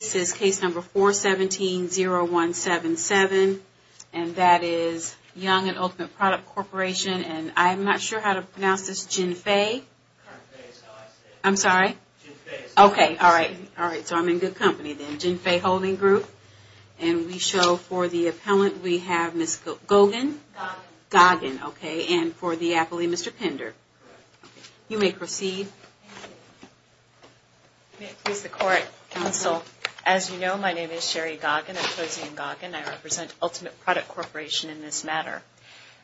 This is case number 417-0177, and that is Young and Ultimate Product Corporation, and I'm not sure how to pronounce this, Jinfei? Jinfei is how I say it. I'm sorry? Jinfei is how I say it. Okay, all right. All right, so I'm in good company then. Jinfei Holding Group. And we show for the appellant, we have Ms. Goggin? Goggin. Goggin, okay, and for the appellee, Mr. Pender. Correct. You may proceed. Thank you. May it please the Court, Counsel, as you know, my name is Sherry Goggin. I'm cozy in Goggin. I represent Ultimate Product Corporation in this matter.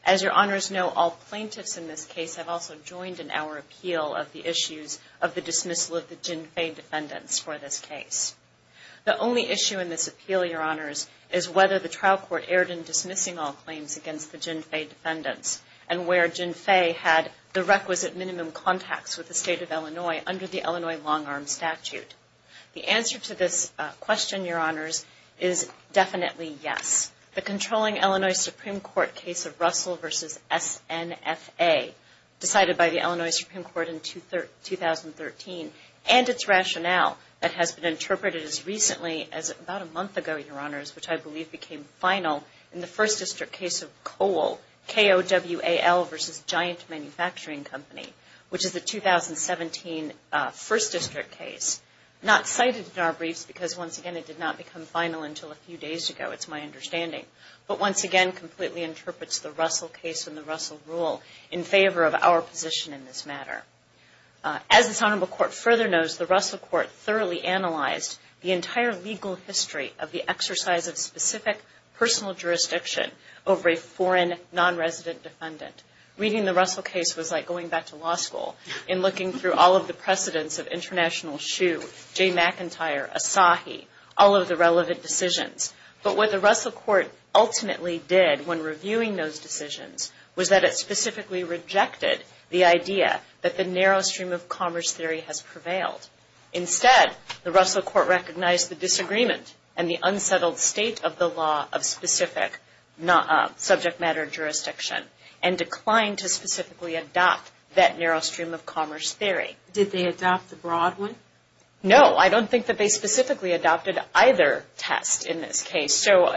As your honors know, all plaintiffs in this case have also joined in our appeal of the issues of the dismissal of the Jinfei defendants for this case. The only issue in this appeal, your honors, is whether the trial court erred in dismissing all claims against the Jinfei defendants and where Jinfei had the requisite minimum contacts with the State of Illinois under the Illinois Long-Arm Statute. The answer to this question, your honors, is definitely yes. The controlling Illinois Supreme Court case of Russell v. SNFA decided by the Illinois Supreme Court in 2013 and its rationale that has been interpreted as recently as about a month ago, your honors, which I believe became final in the First District case of COAL, K-O-W-A-L versus Giant Manufacturing Company, which is the 2017 First District case, not cited in our briefs because, once again, it did not become final until a few days ago, it's my understanding, but once again completely interprets the Russell case and the Russell rule in favor of our position in this matter. As this honorable court further knows, the Russell court thoroughly analyzed the entire legal history of the exercise of specific personal jurisdiction over a foreign non-resident defendant. Reading the Russell case was like going back to law school and looking through all of the precedents of International Shoe, Jay McIntyre, Asahi, all of the relevant decisions. But what the Russell court ultimately did when reviewing those decisions was that it specifically rejected the idea that the narrow stream of commerce theory has prevailed. Instead, the Russell court recognized the disagreement and the unsettled state of the law of specific subject matter jurisdiction and declined to specifically adopt that narrow stream of commerce theory. Did they adopt the broad one? No, I don't think that they specifically adopted either test in this case. So,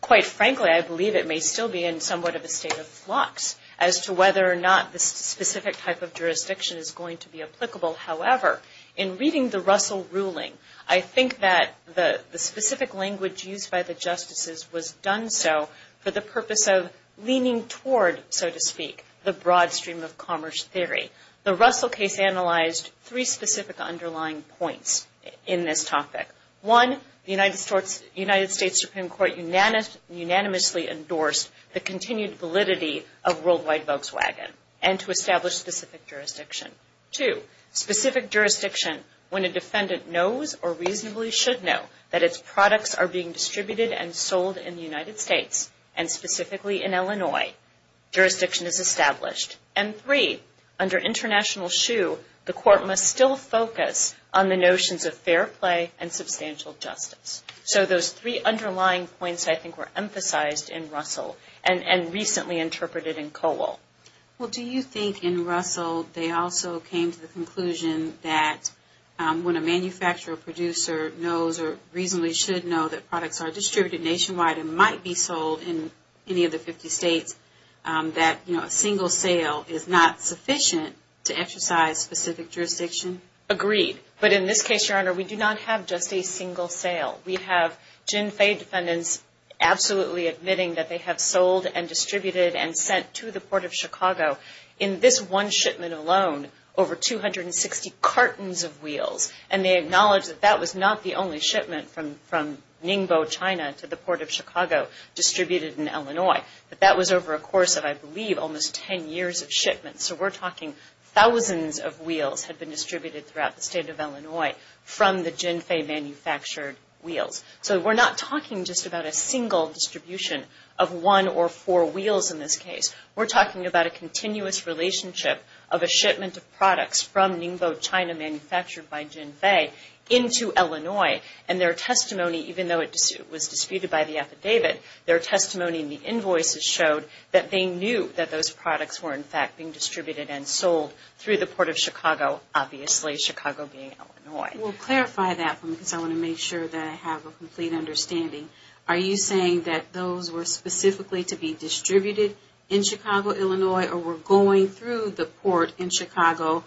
quite frankly, I believe it may still be in somewhat of a state of flux as to whether or not this specific type of jurisdiction is going to be applicable. However, in reading the Russell ruling, I think that the specific language used by the justices was done so for the purpose of leaning toward, so to speak, the broad stream of commerce theory. The Russell case analyzed three specific underlying points in this topic. One, the United States Supreme Court unanimously endorsed the continued validity of worldwide Volkswagen and to establish specific jurisdiction. Two, specific jurisdiction when a defendant knows or reasonably should know that its products are being distributed and sold in the United States and specifically in Illinois. Jurisdiction is established. And three, under international shoe, the court must still focus on the notions of fair play and substantial justice. So those three underlying points, I think, were emphasized in Russell and recently interpreted in Colwell. Well, do you think in Russell they also came to the conclusion that when a manufacturer or producer knows or reasonably should know that products are distributed nationwide and might be sold in any of the 50 states, that a single sale is not sufficient to exercise specific jurisdiction? Agreed. But in this case, Your Honor, we do not have just a single sale. We have Gin Fey defendants absolutely admitting that they have sold and distributed and sent to the Port of Chicago. In this one shipment alone, over 260 cartons of wheels. And they acknowledge that that was not the only shipment from Ningbo, China, to the Port of Chicago distributed in Illinois. But that was over a course of, I believe, almost 10 years of shipment. So we're talking thousands of wheels had been distributed throughout the state of Illinois from the Gin Fey manufactured wheels. So we're not talking just about a single distribution of one or four wheels in this case. We're talking about a continuous relationship of a shipment of products from Ningbo, China, manufactured by Gin Fey into Illinois. And their testimony, even though it was disputed by the affidavit, their testimony in the invoices showed that they knew that those products were, in fact, being distributed and sold through the Port of Chicago, obviously Chicago being Illinois. We'll clarify that for me because I want to make sure that I have a complete understanding. Are you saying that those were specifically to be distributed in Chicago, Illinois, or were going through the port in Chicago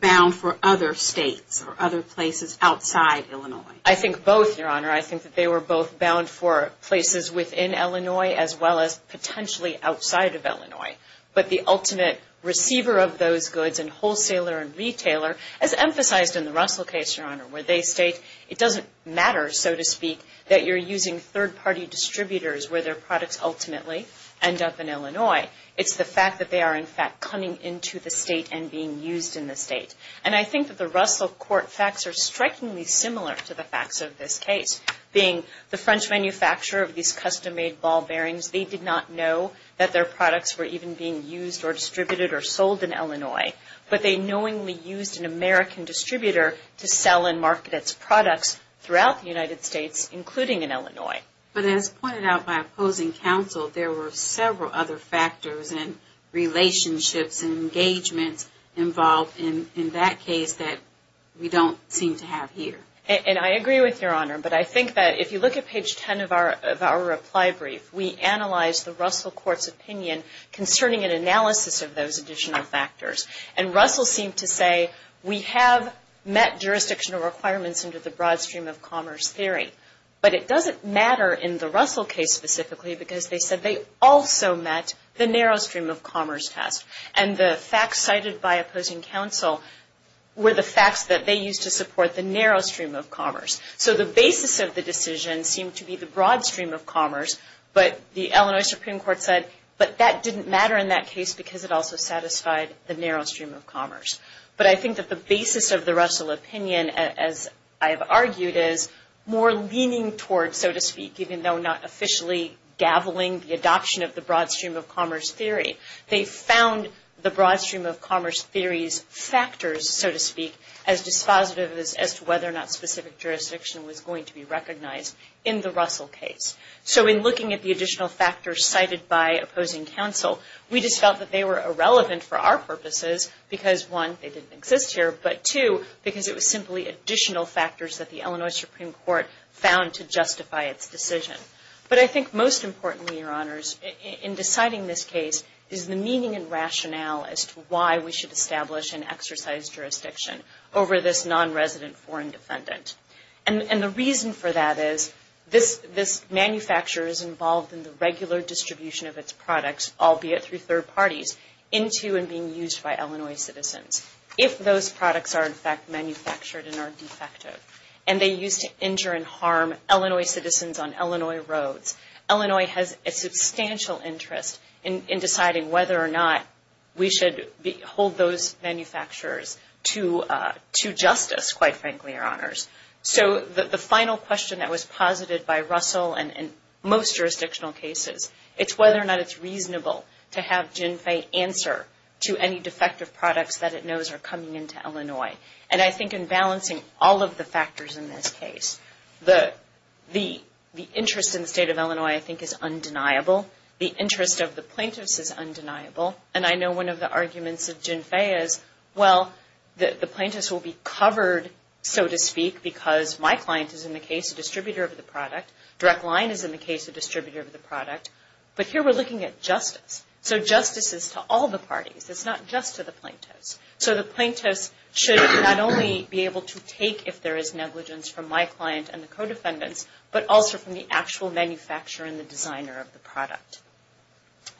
bound for other states or other places outside Illinois? I think both, Your Honor. I think that they were both bound for places within Illinois as well as potentially outside of Illinois. But the ultimate receiver of those goods and wholesaler and retailer, as emphasized in the Russell case, Your Honor, where they state it doesn't matter, so to speak, that you're using third-party distributors where their products ultimately end up in Illinois. It's the fact that they are, in fact, coming into the state and being used in the state. And I think that the Russell court facts are strikingly similar to the facts of this case. Being the French manufacturer of these custom-made ball bearings, they did not know that their products were even being used or distributed or sold in Illinois. But they knowingly used an American distributor to sell and market its products throughout the United States, including in Illinois. But as pointed out by opposing counsel, there were several other factors and relationships and engagements involved in that case that we don't seem to have here. And I agree with Your Honor. But I think that if you look at page 10 of our reply brief, we analyzed the Russell court's opinion concerning an analysis of those additional factors. And Russell seemed to say we have met jurisdictional requirements under the broad stream of commerce theory. But it doesn't matter in the Russell case specifically because they said they also met the narrow stream of commerce test. And the facts cited by opposing counsel were the facts that they used to support the narrow stream of commerce. So the basis of the decision seemed to be the broad stream of commerce. But the Illinois Supreme Court said, but that didn't matter in that case But I think that the basis of the Russell opinion, as I have argued, is more leaning towards, so to speak, even though not officially gaveling the adoption of the broad stream of commerce theory. They found the broad stream of commerce theory's factors, so to speak, as dispositive as to whether or not specific jurisdiction was going to be recognized in the Russell case. So in looking at the additional factors cited by opposing counsel, we just felt that they were irrelevant for our purposes because, one, they didn't exist here, but two, because it was simply additional factors that the Illinois Supreme Court found to justify its decision. But I think most importantly, Your Honors, in deciding this case is the meaning and rationale as to why we should establish and exercise jurisdiction over this nonresident foreign defendant. And the reason for that is this manufacturer is involved in the regular distribution of its products, albeit through third parties, into and being used by Illinois citizens, if those products are, in fact, manufactured and are defective. And they used to injure and harm Illinois citizens on Illinois roads. Illinois has a substantial interest in deciding whether or not we should hold those manufacturers to justice, quite frankly, Your Honors. So the final question that was posited by Russell in most jurisdictional cases, it's whether or not it's reasonable to have GINFE answer to any defective products that it knows are coming into Illinois. And I think in balancing all of the factors in this case, the interest in the state of Illinois, I think, is undeniable. The interest of the plaintiffs is undeniable. And I know one of the arguments of GINFE is, well, the plaintiffs will be covered, so to speak, because my client is, in the case, a distributor of the product. Direct Line is, in the case, a distributor of the product. But here we're looking at justice. So justice is to all the parties. It's not just to the plaintiffs. So the plaintiffs should not only be able to take if there is negligence from my client and the co-defendants, but also from the actual manufacturer and the designer of the product.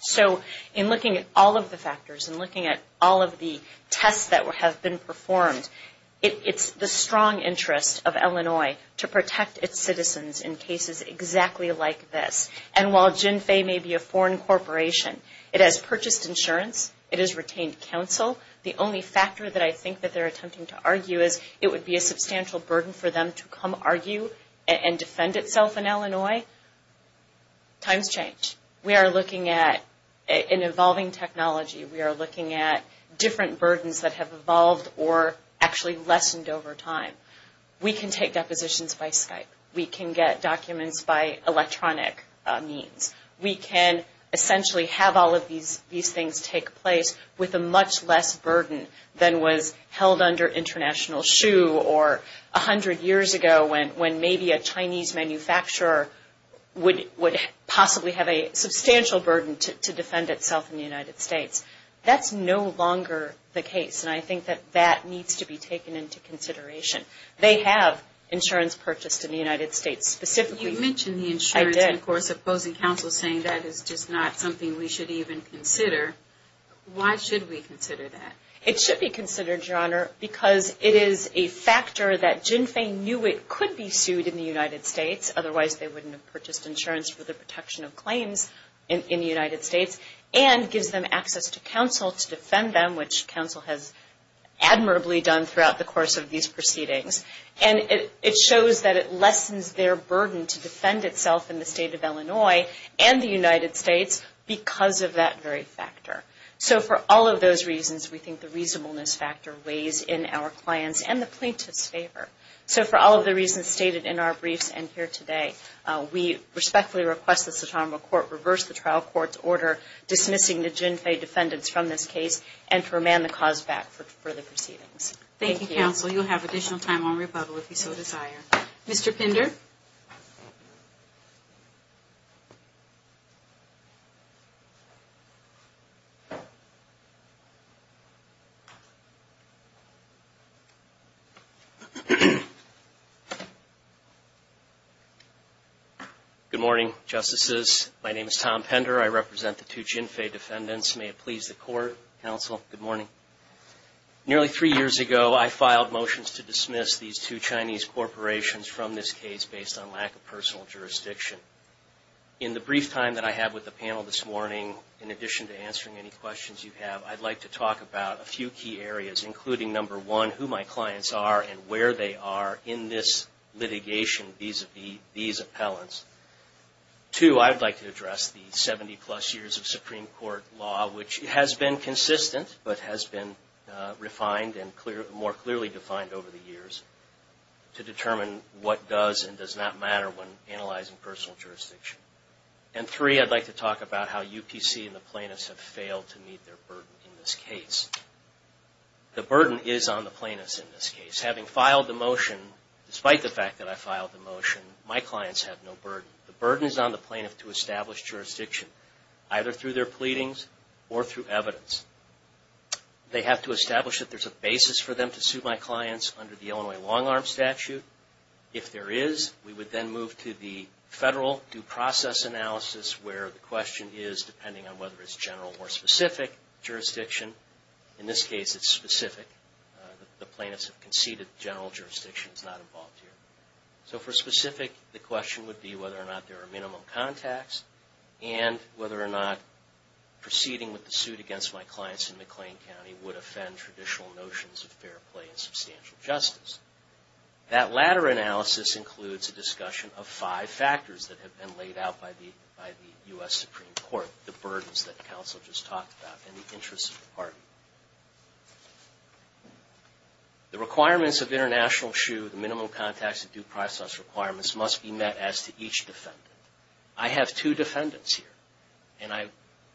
So in looking at all of the factors and looking at all of the tests that have been performed, it's the strong interest of Illinois to protect its citizens in cases exactly like this. And while GINFE may be a foreign corporation, it has purchased insurance, it has retained counsel. The only factor that I think that they're attempting to argue is it would be a substantial burden for them to come argue and defend itself in Illinois. Times change. We are looking at an evolving technology. We are looking at different burdens that have evolved or actually lessened over time. We can take depositions by Skype. We can get documents by electronic means. We can essentially have all of these things take place with a much less burden than was held under international shoe or 100 years ago when maybe a Chinese manufacturer would possibly have a substantial burden to defend itself in the United States. That's no longer the case, and I think that that needs to be taken into consideration. They have insurance purchased in the United States specifically. You mentioned the insurance. I did. And, of course, opposing counsel saying that is just not something we should even consider. Why should we consider that? It should be considered, Your Honor, because it is a factor that GINFE knew it could be sued in the United States. Otherwise, they wouldn't have purchased insurance for the protection of claims in the United States and gives them access to counsel to defend them, which counsel has admirably done throughout the course of these proceedings. And it shows that it lessens their burden to defend itself in the state of Illinois and the United States because of that very factor. So for all of those reasons, we think the reasonableness factor weighs in our clients' and the plaintiff's favor. So for all of the reasons stated in our briefs and here today, we respectfully request this Autonomous Court reverse the trial court's order, dismissing the GINFE defendants from this case, and to remand the cause back for further proceedings. Thank you, counsel. You'll have additional time on rebuttal if you so desire. Mr. Pinder? Good morning, Justices. My name is Tom Pinder. I represent the two GINFE defendants. May it please the court, counsel, good morning. Nearly three years ago, I filed motions to dismiss these two Chinese corporations from this case based on lack of personal jurisdiction. In the brief time that I have with the panel this morning, in addition to answering any questions you have, I'd like to talk about a few key areas, including number one, who my clients are and where they are in this litigation vis-a-vis these appellants. Two, I'd like to address the 70-plus years of Supreme Court law, which has been consistent, but has been refined and more clearly defined over the years to determine what does and does not matter when analyzing personal jurisdiction. And three, I'd like to talk about how UPC and the plaintiffs have failed to meet their burden in this case. The burden is on the plaintiffs in this case. Having filed the motion, despite the fact that I filed the motion, my clients have no burden. The burden is on the plaintiff to establish jurisdiction, either through their pleadings or through evidence. They have to establish that there's a basis for them to sue my clients under the Illinois long-arm statute. If there is, we would then move to the federal due process analysis where the question is, depending on whether it's general or specific jurisdiction. In this case, it's specific. The plaintiffs have conceded general jurisdiction is not involved here. So for specific, the question would be whether or not there are minimum contacts and whether or not proceeding with the suit against my clients in McLean County would offend traditional notions of fair play and substantial justice. That latter analysis includes a discussion of five factors that have been laid out by the U.S. Supreme Court, the burdens that counsel just talked about and the interests of the party. The requirements of international sue, the minimum contacts and due process requirements, must be met as to each defendant. I have two defendants here, and I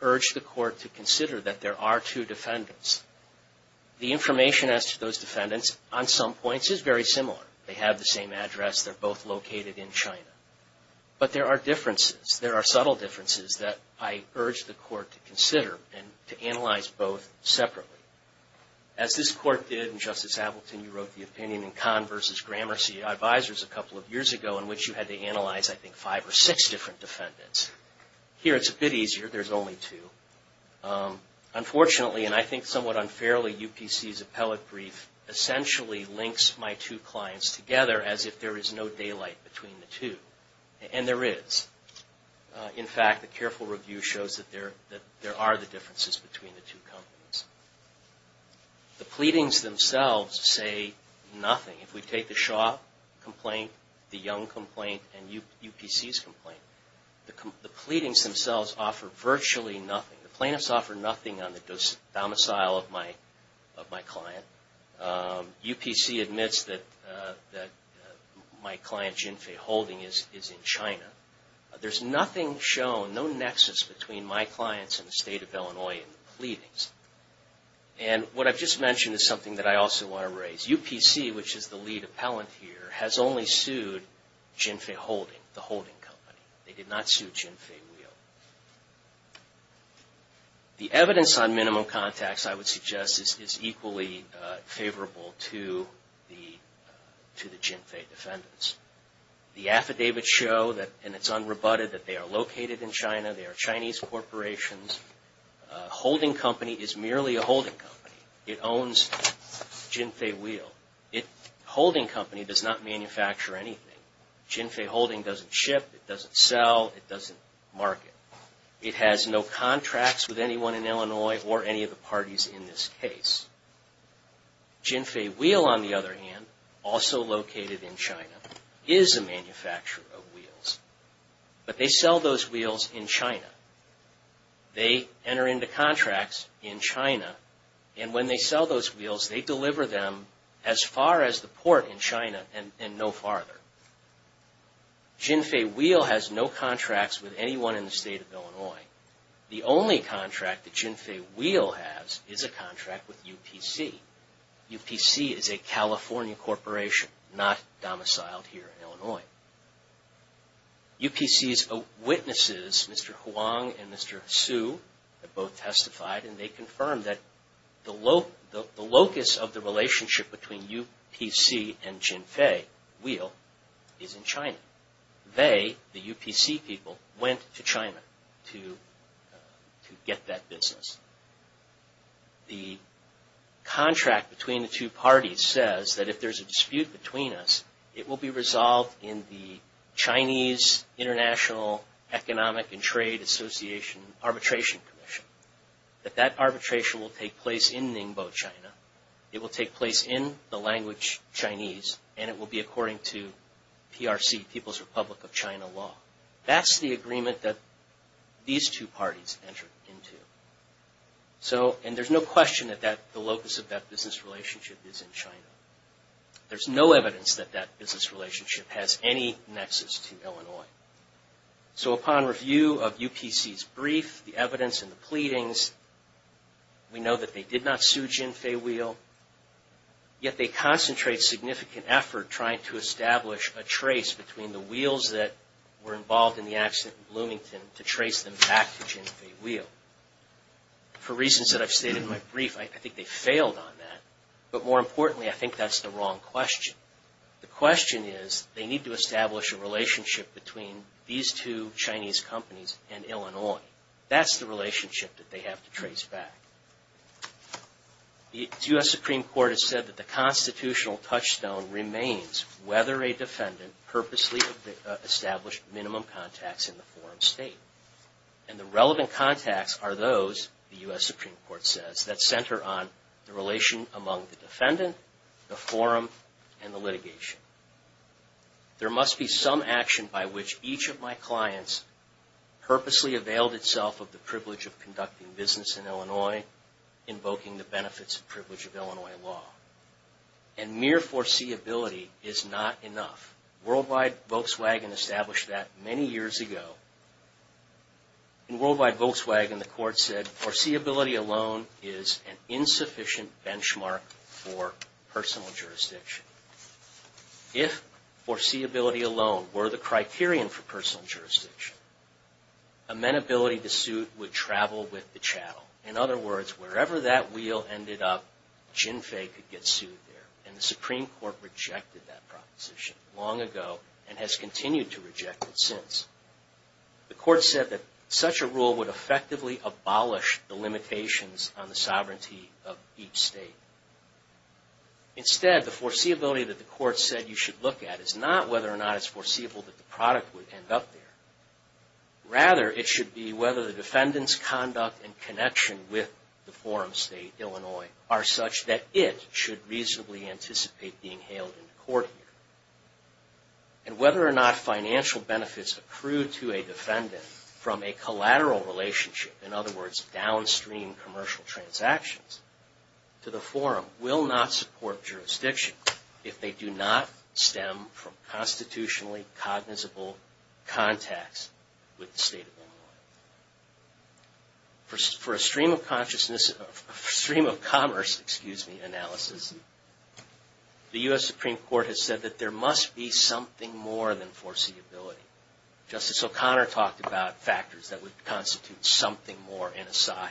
urge the court to consider that there are two defendants. The information as to those defendants on some points is very similar. They have the same address. They're both located in China. But there are differences. There are subtle differences that I urge the court to consider and to analyze both separately. As this court did in Justice Appleton, you wrote the opinion in Kahn v. Gramercy Advisors a couple of years ago in which you had to analyze, I think, five or six different defendants. Here it's a bit easier. There's only two. Unfortunately, and I think somewhat unfairly, UPC's appellate brief essentially links my two clients together as if there is no daylight between the two. And there is. In fact, a careful review shows that there are the differences between the two companies. The pleadings themselves say nothing. If we take the Shaw complaint, the Young complaint, and UPC's complaint, the pleadings themselves offer virtually nothing. The plaintiffs offer nothing on the domicile of my client. UPC admits that my client, Jinfei Holding, is in China. There's nothing shown, no nexus between my clients and the State of Illinois in the pleadings. And what I've just mentioned is something that I also want to raise. UPC, which is the lead appellant here, has only sued Jinfei Holding, the holding company. They did not sue Jinfei Wheel. The evidence on minimum contacts, I would suggest, is equally favorable to the Jinfei defendants. The affidavits show, and it's unrebutted, that they are located in China. They are Chinese corporations. Holding Company is merely a holding company. It owns Jinfei Wheel. Holding Company does not manufacture anything. Jinfei Holding doesn't ship, it doesn't sell, it doesn't market. It has no contracts with anyone in Illinois or any of the parties in this case. Jinfei Wheel, on the other hand, also located in China, is a manufacturer of wheels. But they sell those wheels in China. They enter into contracts in China, and when they sell those wheels, they deliver them as far as the port in China and no farther. Jinfei Wheel has no contracts with anyone in the state of Illinois. The only contract that Jinfei Wheel has is a contract with UPC. UPC is a California corporation, not domiciled here in Illinois. UPC's witnesses, Mr. Huang and Mr. Hsu, have both testified, and they confirmed that the locus of the relationship between UPC and Jinfei Wheel is in China. They, the UPC people, went to China to get that business. The contract between the two parties says that if there's a dispute between us, it will be resolved in the Chinese International Economic and Trade Association Arbitration Commission. That that arbitration will take place in Ningbo, China. It will take place in the language Chinese, and it will be according to PRC, People's Republic of China law. That's the agreement that these two parties entered into. And there's no question that the locus of that business relationship is in China. There's no evidence that that business relationship has any nexus to Illinois. So upon review of UPC's brief, the evidence, and the pleadings, we know that they did not sue Jinfei Wheel, yet they concentrate significant effort trying to establish a trace between the wheels that were involved in the accident in Bloomington to trace them back to Jinfei Wheel. For reasons that I've stated in my brief, I think they failed on that. But more importantly, I think that's the wrong question. The question is, they need to establish a relationship between these two Chinese companies and Illinois. That's the relationship that they have to trace back. The U.S. Supreme Court has said that the constitutional touchstone remains whether a defendant purposely established minimum contacts in the foreign state. And the relevant contacts are those, the U.S. Supreme Court says, that center on the relation among the defendant, the forum, and the litigation. There must be some action by which each of my clients purposely availed itself of the privilege of conducting business in Illinois, invoking the benefits and privilege of Illinois law. And mere foreseeability is not enough. Worldwide Volkswagen established that many years ago. In Worldwide Volkswagen, the court said, foreseeability alone is an insufficient benchmark for personal jurisdiction. If foreseeability alone were the criterion for personal jurisdiction, amenability to suit would travel with the chattel. In other words, wherever that wheel ended up, Jinfei could get sued there. And the Supreme Court rejected that proposition long ago and has continued to reject it since. The court said that such a rule would effectively abolish the limitations on the sovereignty of each state. Instead, the foreseeability that the court said you should look at is not whether or not it's foreseeable that the product would end up there. Rather, it should be whether the defendant's conduct and connection with the forum state, Illinois, are such that it should reasonably anticipate being hailed into court here. And whether or not financial benefits accrued to a defendant from a collateral relationship, in other words downstream commercial transactions, to the forum will not support jurisdiction if they do not stem from constitutionally cognizable contacts with the state of Illinois. For a stream of commerce analysis, the U.S. Supreme Court has said that there must be something more than foreseeability. Justice O'Connor talked about factors that would constitute something more in Asahi.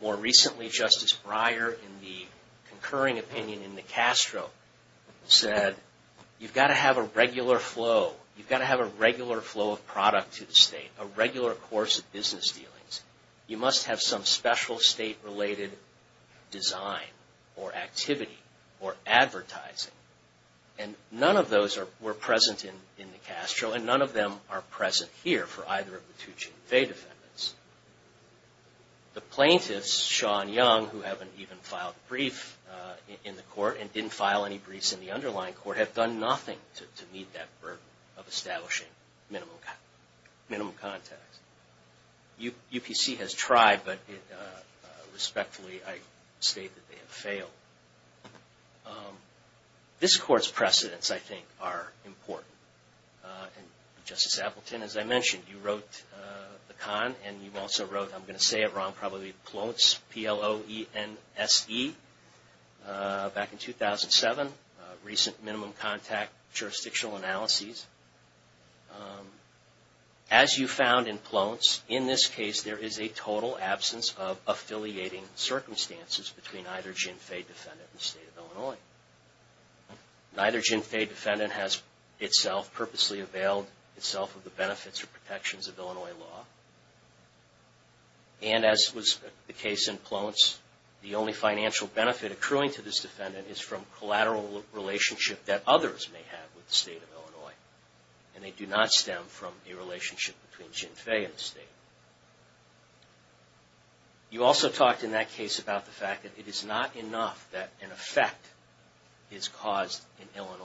More recently, Justice Breyer, in the concurring opinion in the Castro, said you've got to have a regular flow. You've got to have a regular flow of product to the state, a regular course of business dealings. You must have some special state-related design or activity or advertising. And none of those were present in the Castro, and none of them are present here for either of the two Chin-fei defendants. The plaintiffs, Shaw and Young, who haven't even filed a brief in the court and didn't file any briefs in the underlying court, have done nothing to meet that burden of establishing minimum contacts. UPC has tried, but respectfully, I state that they have failed. This Court's precedents, I think, are important. Justice Appleton, as I mentioned, you wrote the con, and you also wrote, I'm going to say it wrong, probably PLONS, P-L-O-N-S-E, back in 2007, Recent Minimum Contact Jurisdictional Analyses. As you found in PLONS, in this case, there is a total absence of affiliating circumstances between either Chin-fei defendant and the State of Illinois. Neither Chin-fei defendant has itself purposely availed itself of the benefits or protections of Illinois law. And as was the case in PLONS, the only financial benefit accruing to this defendant is from collateral relationship that others may have with the State of Illinois. And they do not stem from a relationship between Chin-fei and the State. You also talked in that case about the fact that it is not enough that an effect is caused in Illinois.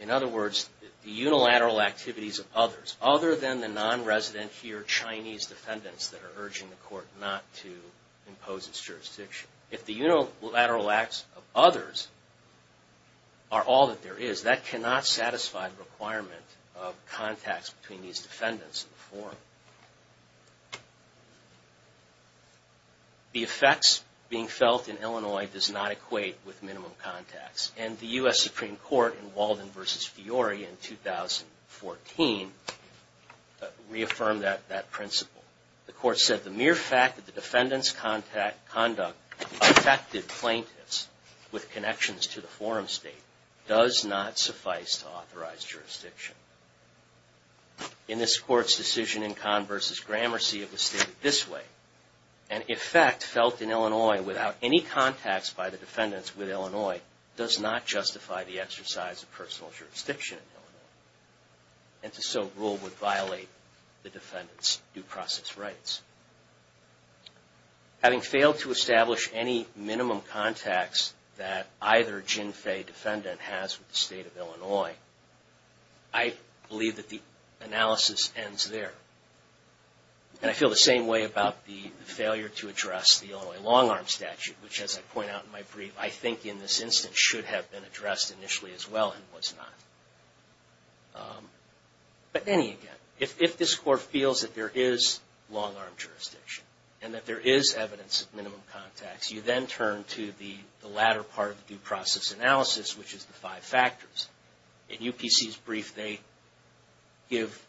In other words, the unilateral activities of others, other than the non-resident here Chinese defendants that are urging the Court not to impose its jurisdiction. If the unilateral acts of others are all that there is, that cannot satisfy the requirement of contacts between these defendants in the forum. The effects being felt in Illinois does not equate with minimum contacts. And the U.S. Supreme Court in Walden v. Fiore in 2014 reaffirmed that principle. The Court said the mere fact that the defendant's conduct affected plaintiffs with connections to the forum State does not suffice to authorize jurisdiction. In this Court's decision in Kahn v. Gramercy, it was stated this way, An effect felt in Illinois without any contacts by the defendants with Illinois does not justify the exercise of personal jurisdiction in Illinois. And to so rule would violate the defendant's due process rights. Having failed to establish any minimum contacts that either Chin-fei defendant has with the State of Illinois, I believe that the analysis ends there. And I feel the same way about the failure to address the Illinois long-arm statute, which as I point out in my brief, I think in this instance should have been addressed initially as well and was not. But then again, if this Court feels that there is long-arm jurisdiction, and that there is evidence of minimum contacts, you then turn to the latter part of the due process analysis, which is the five factors. In UPC's brief, they give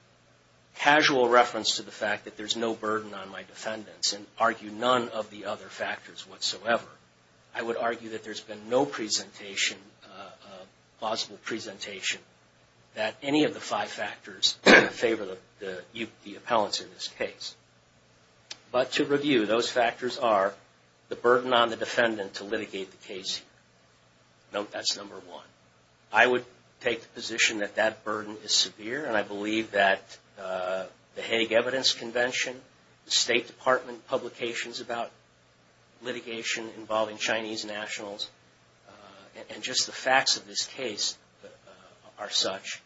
casual reference to the fact that there's no burden on my defendants and argue none of the other factors whatsoever. I would argue that there's been no presentation, possible presentation, that any of the five factors favor the appellants in this case. But to review, those factors are the burden on the defendant to litigate the case. Note that's number one. I would take the position that that burden is severe, and I believe that the Hague Evidence Convention, the State Department publications about litigation involving Chinese nationals, and just the facts of this case are such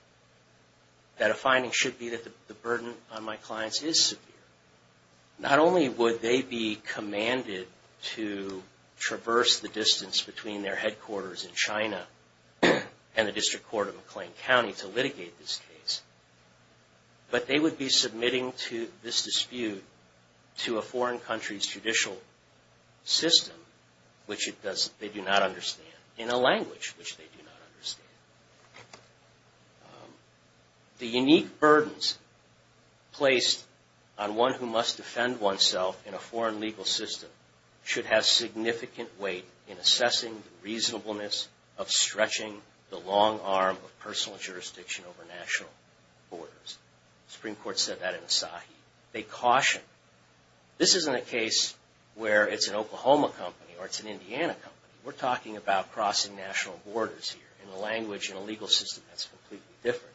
that a finding should be that the burden on my clients is severe. Not only would they be commanded to traverse the distance between their headquarters in China and the District Court of McLean County to litigate this case, but they would be submitting to this dispute to a foreign country's judicial system, which they do not understand, in a language which they do not understand. The unique burdens placed on one who must defend oneself in a foreign legal system should have significant weight in assessing the reasonableness of stretching the long arm of personal jurisdiction over national borders. The Supreme Court said that in Asahi. They caution. This isn't a case where it's an Oklahoma company or it's an Indiana company. We're talking about crossing national borders here. In a language, in a legal system, that's completely different.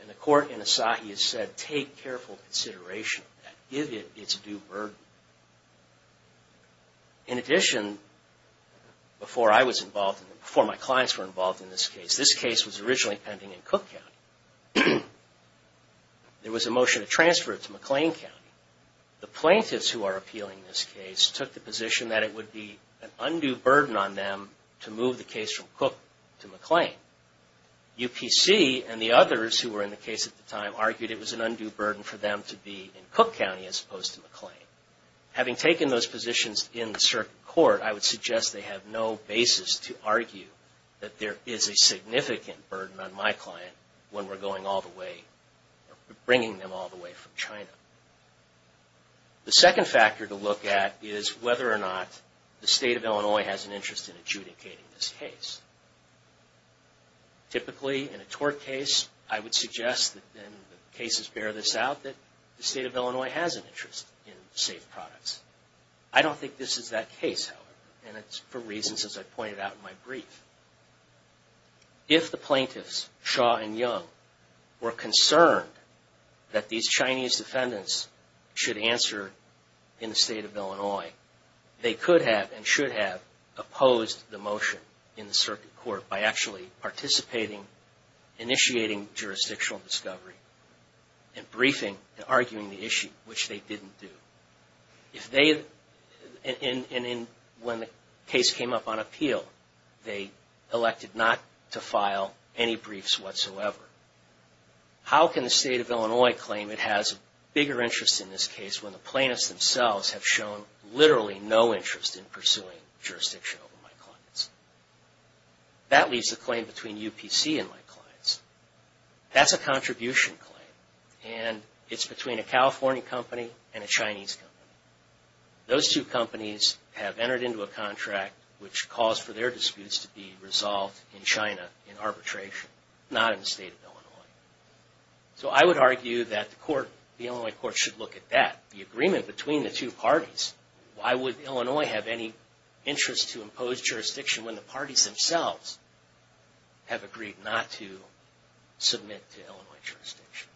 And the court in Asahi has said, take careful consideration of that. Give it its due burden. In addition, before I was involved, before my clients were involved in this case, this case was originally pending in Cook County. There was a motion to transfer it to McLean County. The plaintiffs who are appealing this case took the position that it would be an undue burden on them to move the case from Cook to McLean. UPC and the others who were in the case at the time argued it was an undue burden for them to be in Cook County as opposed to McLean. Having taken those positions in the circuit court, I would suggest they have no basis to argue that there is a significant burden on my client when we're going all the way, bringing them all the way from China. The second factor to look at is whether or not the state of Illinois has an interest in adjudicating this case. Typically, in a tort case, I would suggest, and the cases bear this out, that the state of Illinois has an interest in safe products. I don't think this is that case, however. And it's for reasons, as I pointed out in my brief. If the plaintiffs, Shaw and Young, were concerned that these Chinese defendants should answer in the state of Illinois, they could have and should have opposed the motion in the circuit court by actually participating, initiating jurisdictional discovery, and briefing, and arguing the issue, which they didn't do. If they, and when the case came up on appeal, they elected not to file any briefs whatsoever. How can the state of Illinois claim it has a bigger interest in this case when the plaintiffs themselves have shown literally no interest in pursuing jurisdiction over my clients? That leaves the claim between UPC and my clients. That's a contribution claim. And it's between a California company and a Chinese company. Those two companies have entered into a contract, which calls for their disputes to be resolved in China in arbitration, not in the state of Illinois. So I would argue that the Illinois court should look at that, the agreement between the two parties. Why would Illinois have any interest to impose jurisdiction when the parties themselves have agreed not to submit to Illinois jurisdiction?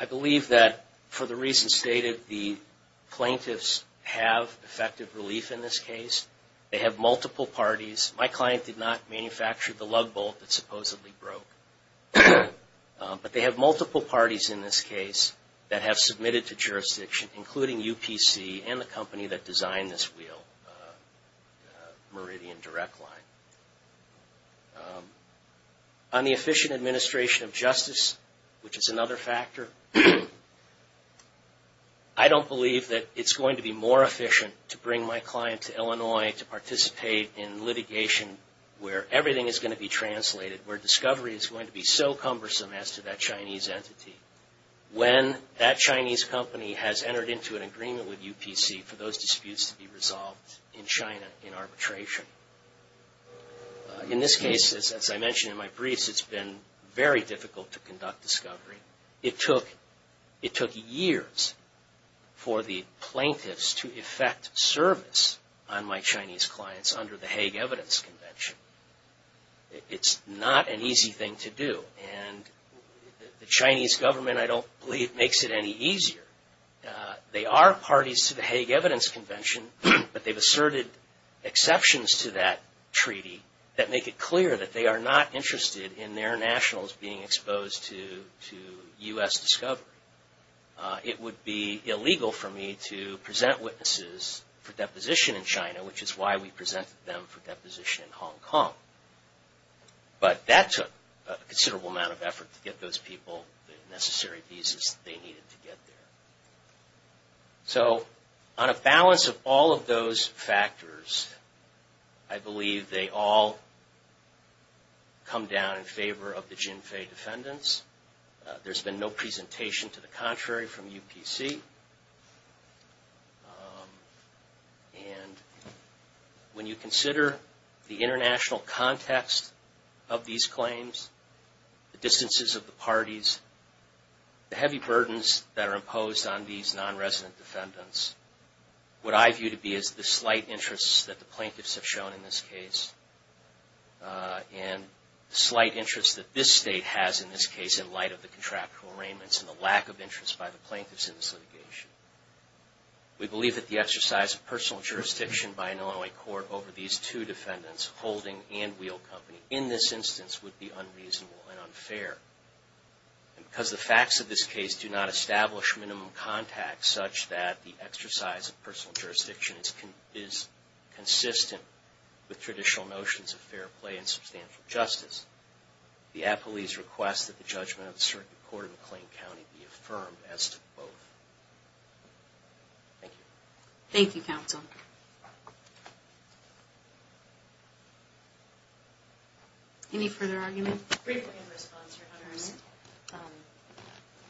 I believe that, for the reasons stated, the plaintiffs have effective relief in this case. They have multiple parties. My client did not manufacture the lug bolt that supposedly broke. But they have multiple parties in this case that have submitted to jurisdiction, including UPC and the company that designed this wheel, Meridian Direct Line. On the efficient administration of justice, which is another factor, I don't believe that it's going to be more efficient to bring my client to Illinois to participate in litigation where everything is going to be translated, where discovery is going to be so cumbersome as to that Chinese entity. When that Chinese company has entered into an agreement with UPC for those disputes to be resolved in China in arbitration. In this case, as I mentioned in my briefs, it's been very difficult to conduct discovery. It took years for the plaintiffs to effect service on my Chinese clients under the Hague Evidence Convention. It's not an easy thing to do. And the Chinese government, I don't believe, makes it any easier. They are parties to the Hague Evidence Convention, but they've asserted exceptions to that treaty that make it clear that they are not interested in their nationals being exposed to U.S. discovery. It would be illegal for me to present witnesses for deposition in China, which is why we presented them for deposition in Hong Kong. But that took a considerable amount of effort to get those people the necessary visas they needed to get there. So on a balance of all of those factors, I believe they all come down in favor of the Jinfei defendants. There's been no presentation to the contrary from UPC. And when you consider the international context of these claims, the distances of the parties, the heavy burdens that are imposed on these nonresident defendants, what I view to be is the slight interests that the plaintiffs have shown in this case and the slight interests that this state has in this case in light of the contractual arraignments and the lack of interest by the plaintiffs in this litigation. We believe that the exercise of personal jurisdiction by an Illinois court over these two defendants, Holding and Wheel Company, in this instance would be unreasonable and unfair. Because the facts of this case do not establish minimum contact such that the exercise of personal jurisdiction is consistent with traditional notions of fair play and substantial justice, the appellee's request that the judgment of the Circuit Court of McLean County be affirmed as to both. Thank you. Thank you, counsel. Any further argument? Briefly in response, Your Honors.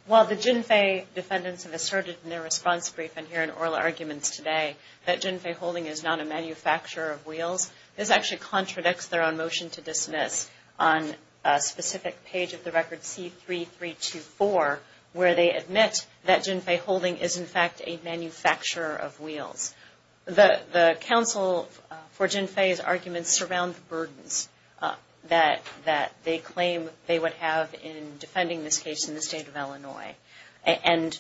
While the Jinfei defendants have asserted in their response briefing here in oral arguments today that Jinfei Holding is not a manufacturer of wheels, this actually contradicts their own motion to dismiss on a specific page of the record C-3324 where they admit that Jinfei Holding is in fact a manufacturer of wheels. The counsel for Jinfei's arguments surround the burdens that they claim they would have in defending this case in the state of Illinois. And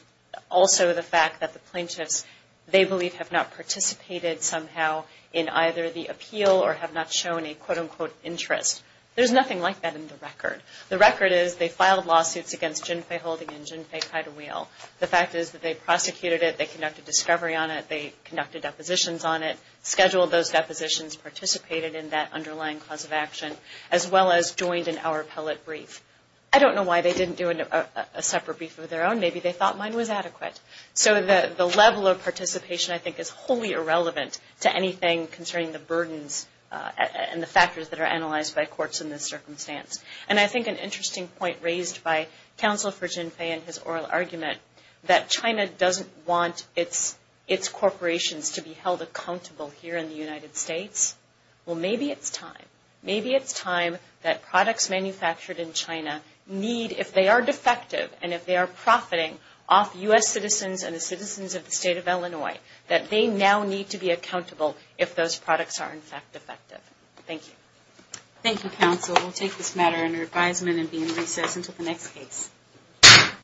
also the fact that the plaintiffs, they believe, have not participated somehow in either the appeal or have not shown a quote-unquote interest. There's nothing like that in the record. The record is they filed lawsuits against Jinfei Holding and Jinfei Kida Wheel. The fact is that they prosecuted it, they conducted discovery on it, they conducted depositions on it, scheduled those depositions, participated in that underlying cause of action, as well as joined in our appellate brief. I don't know why they didn't do a separate brief of their own. Maybe they thought mine was adequate. So the level of participation I think is wholly irrelevant to anything concerning the burdens and the factors that are analyzed by courts in this circumstance. And I think an interesting point raised by counsel for Jinfei in his oral argument that China doesn't want its corporations to be held accountable here in the United States. Well, maybe it's time. Maybe it's time that products manufactured in China need, if they are defective and if they are profiting off U.S. citizens and the citizens of the state of Illinois, that they now need to be accountable if those products are in fact defective. Thank you. Thank you, counsel. We'll take this matter under advisement and be in recess until the next case.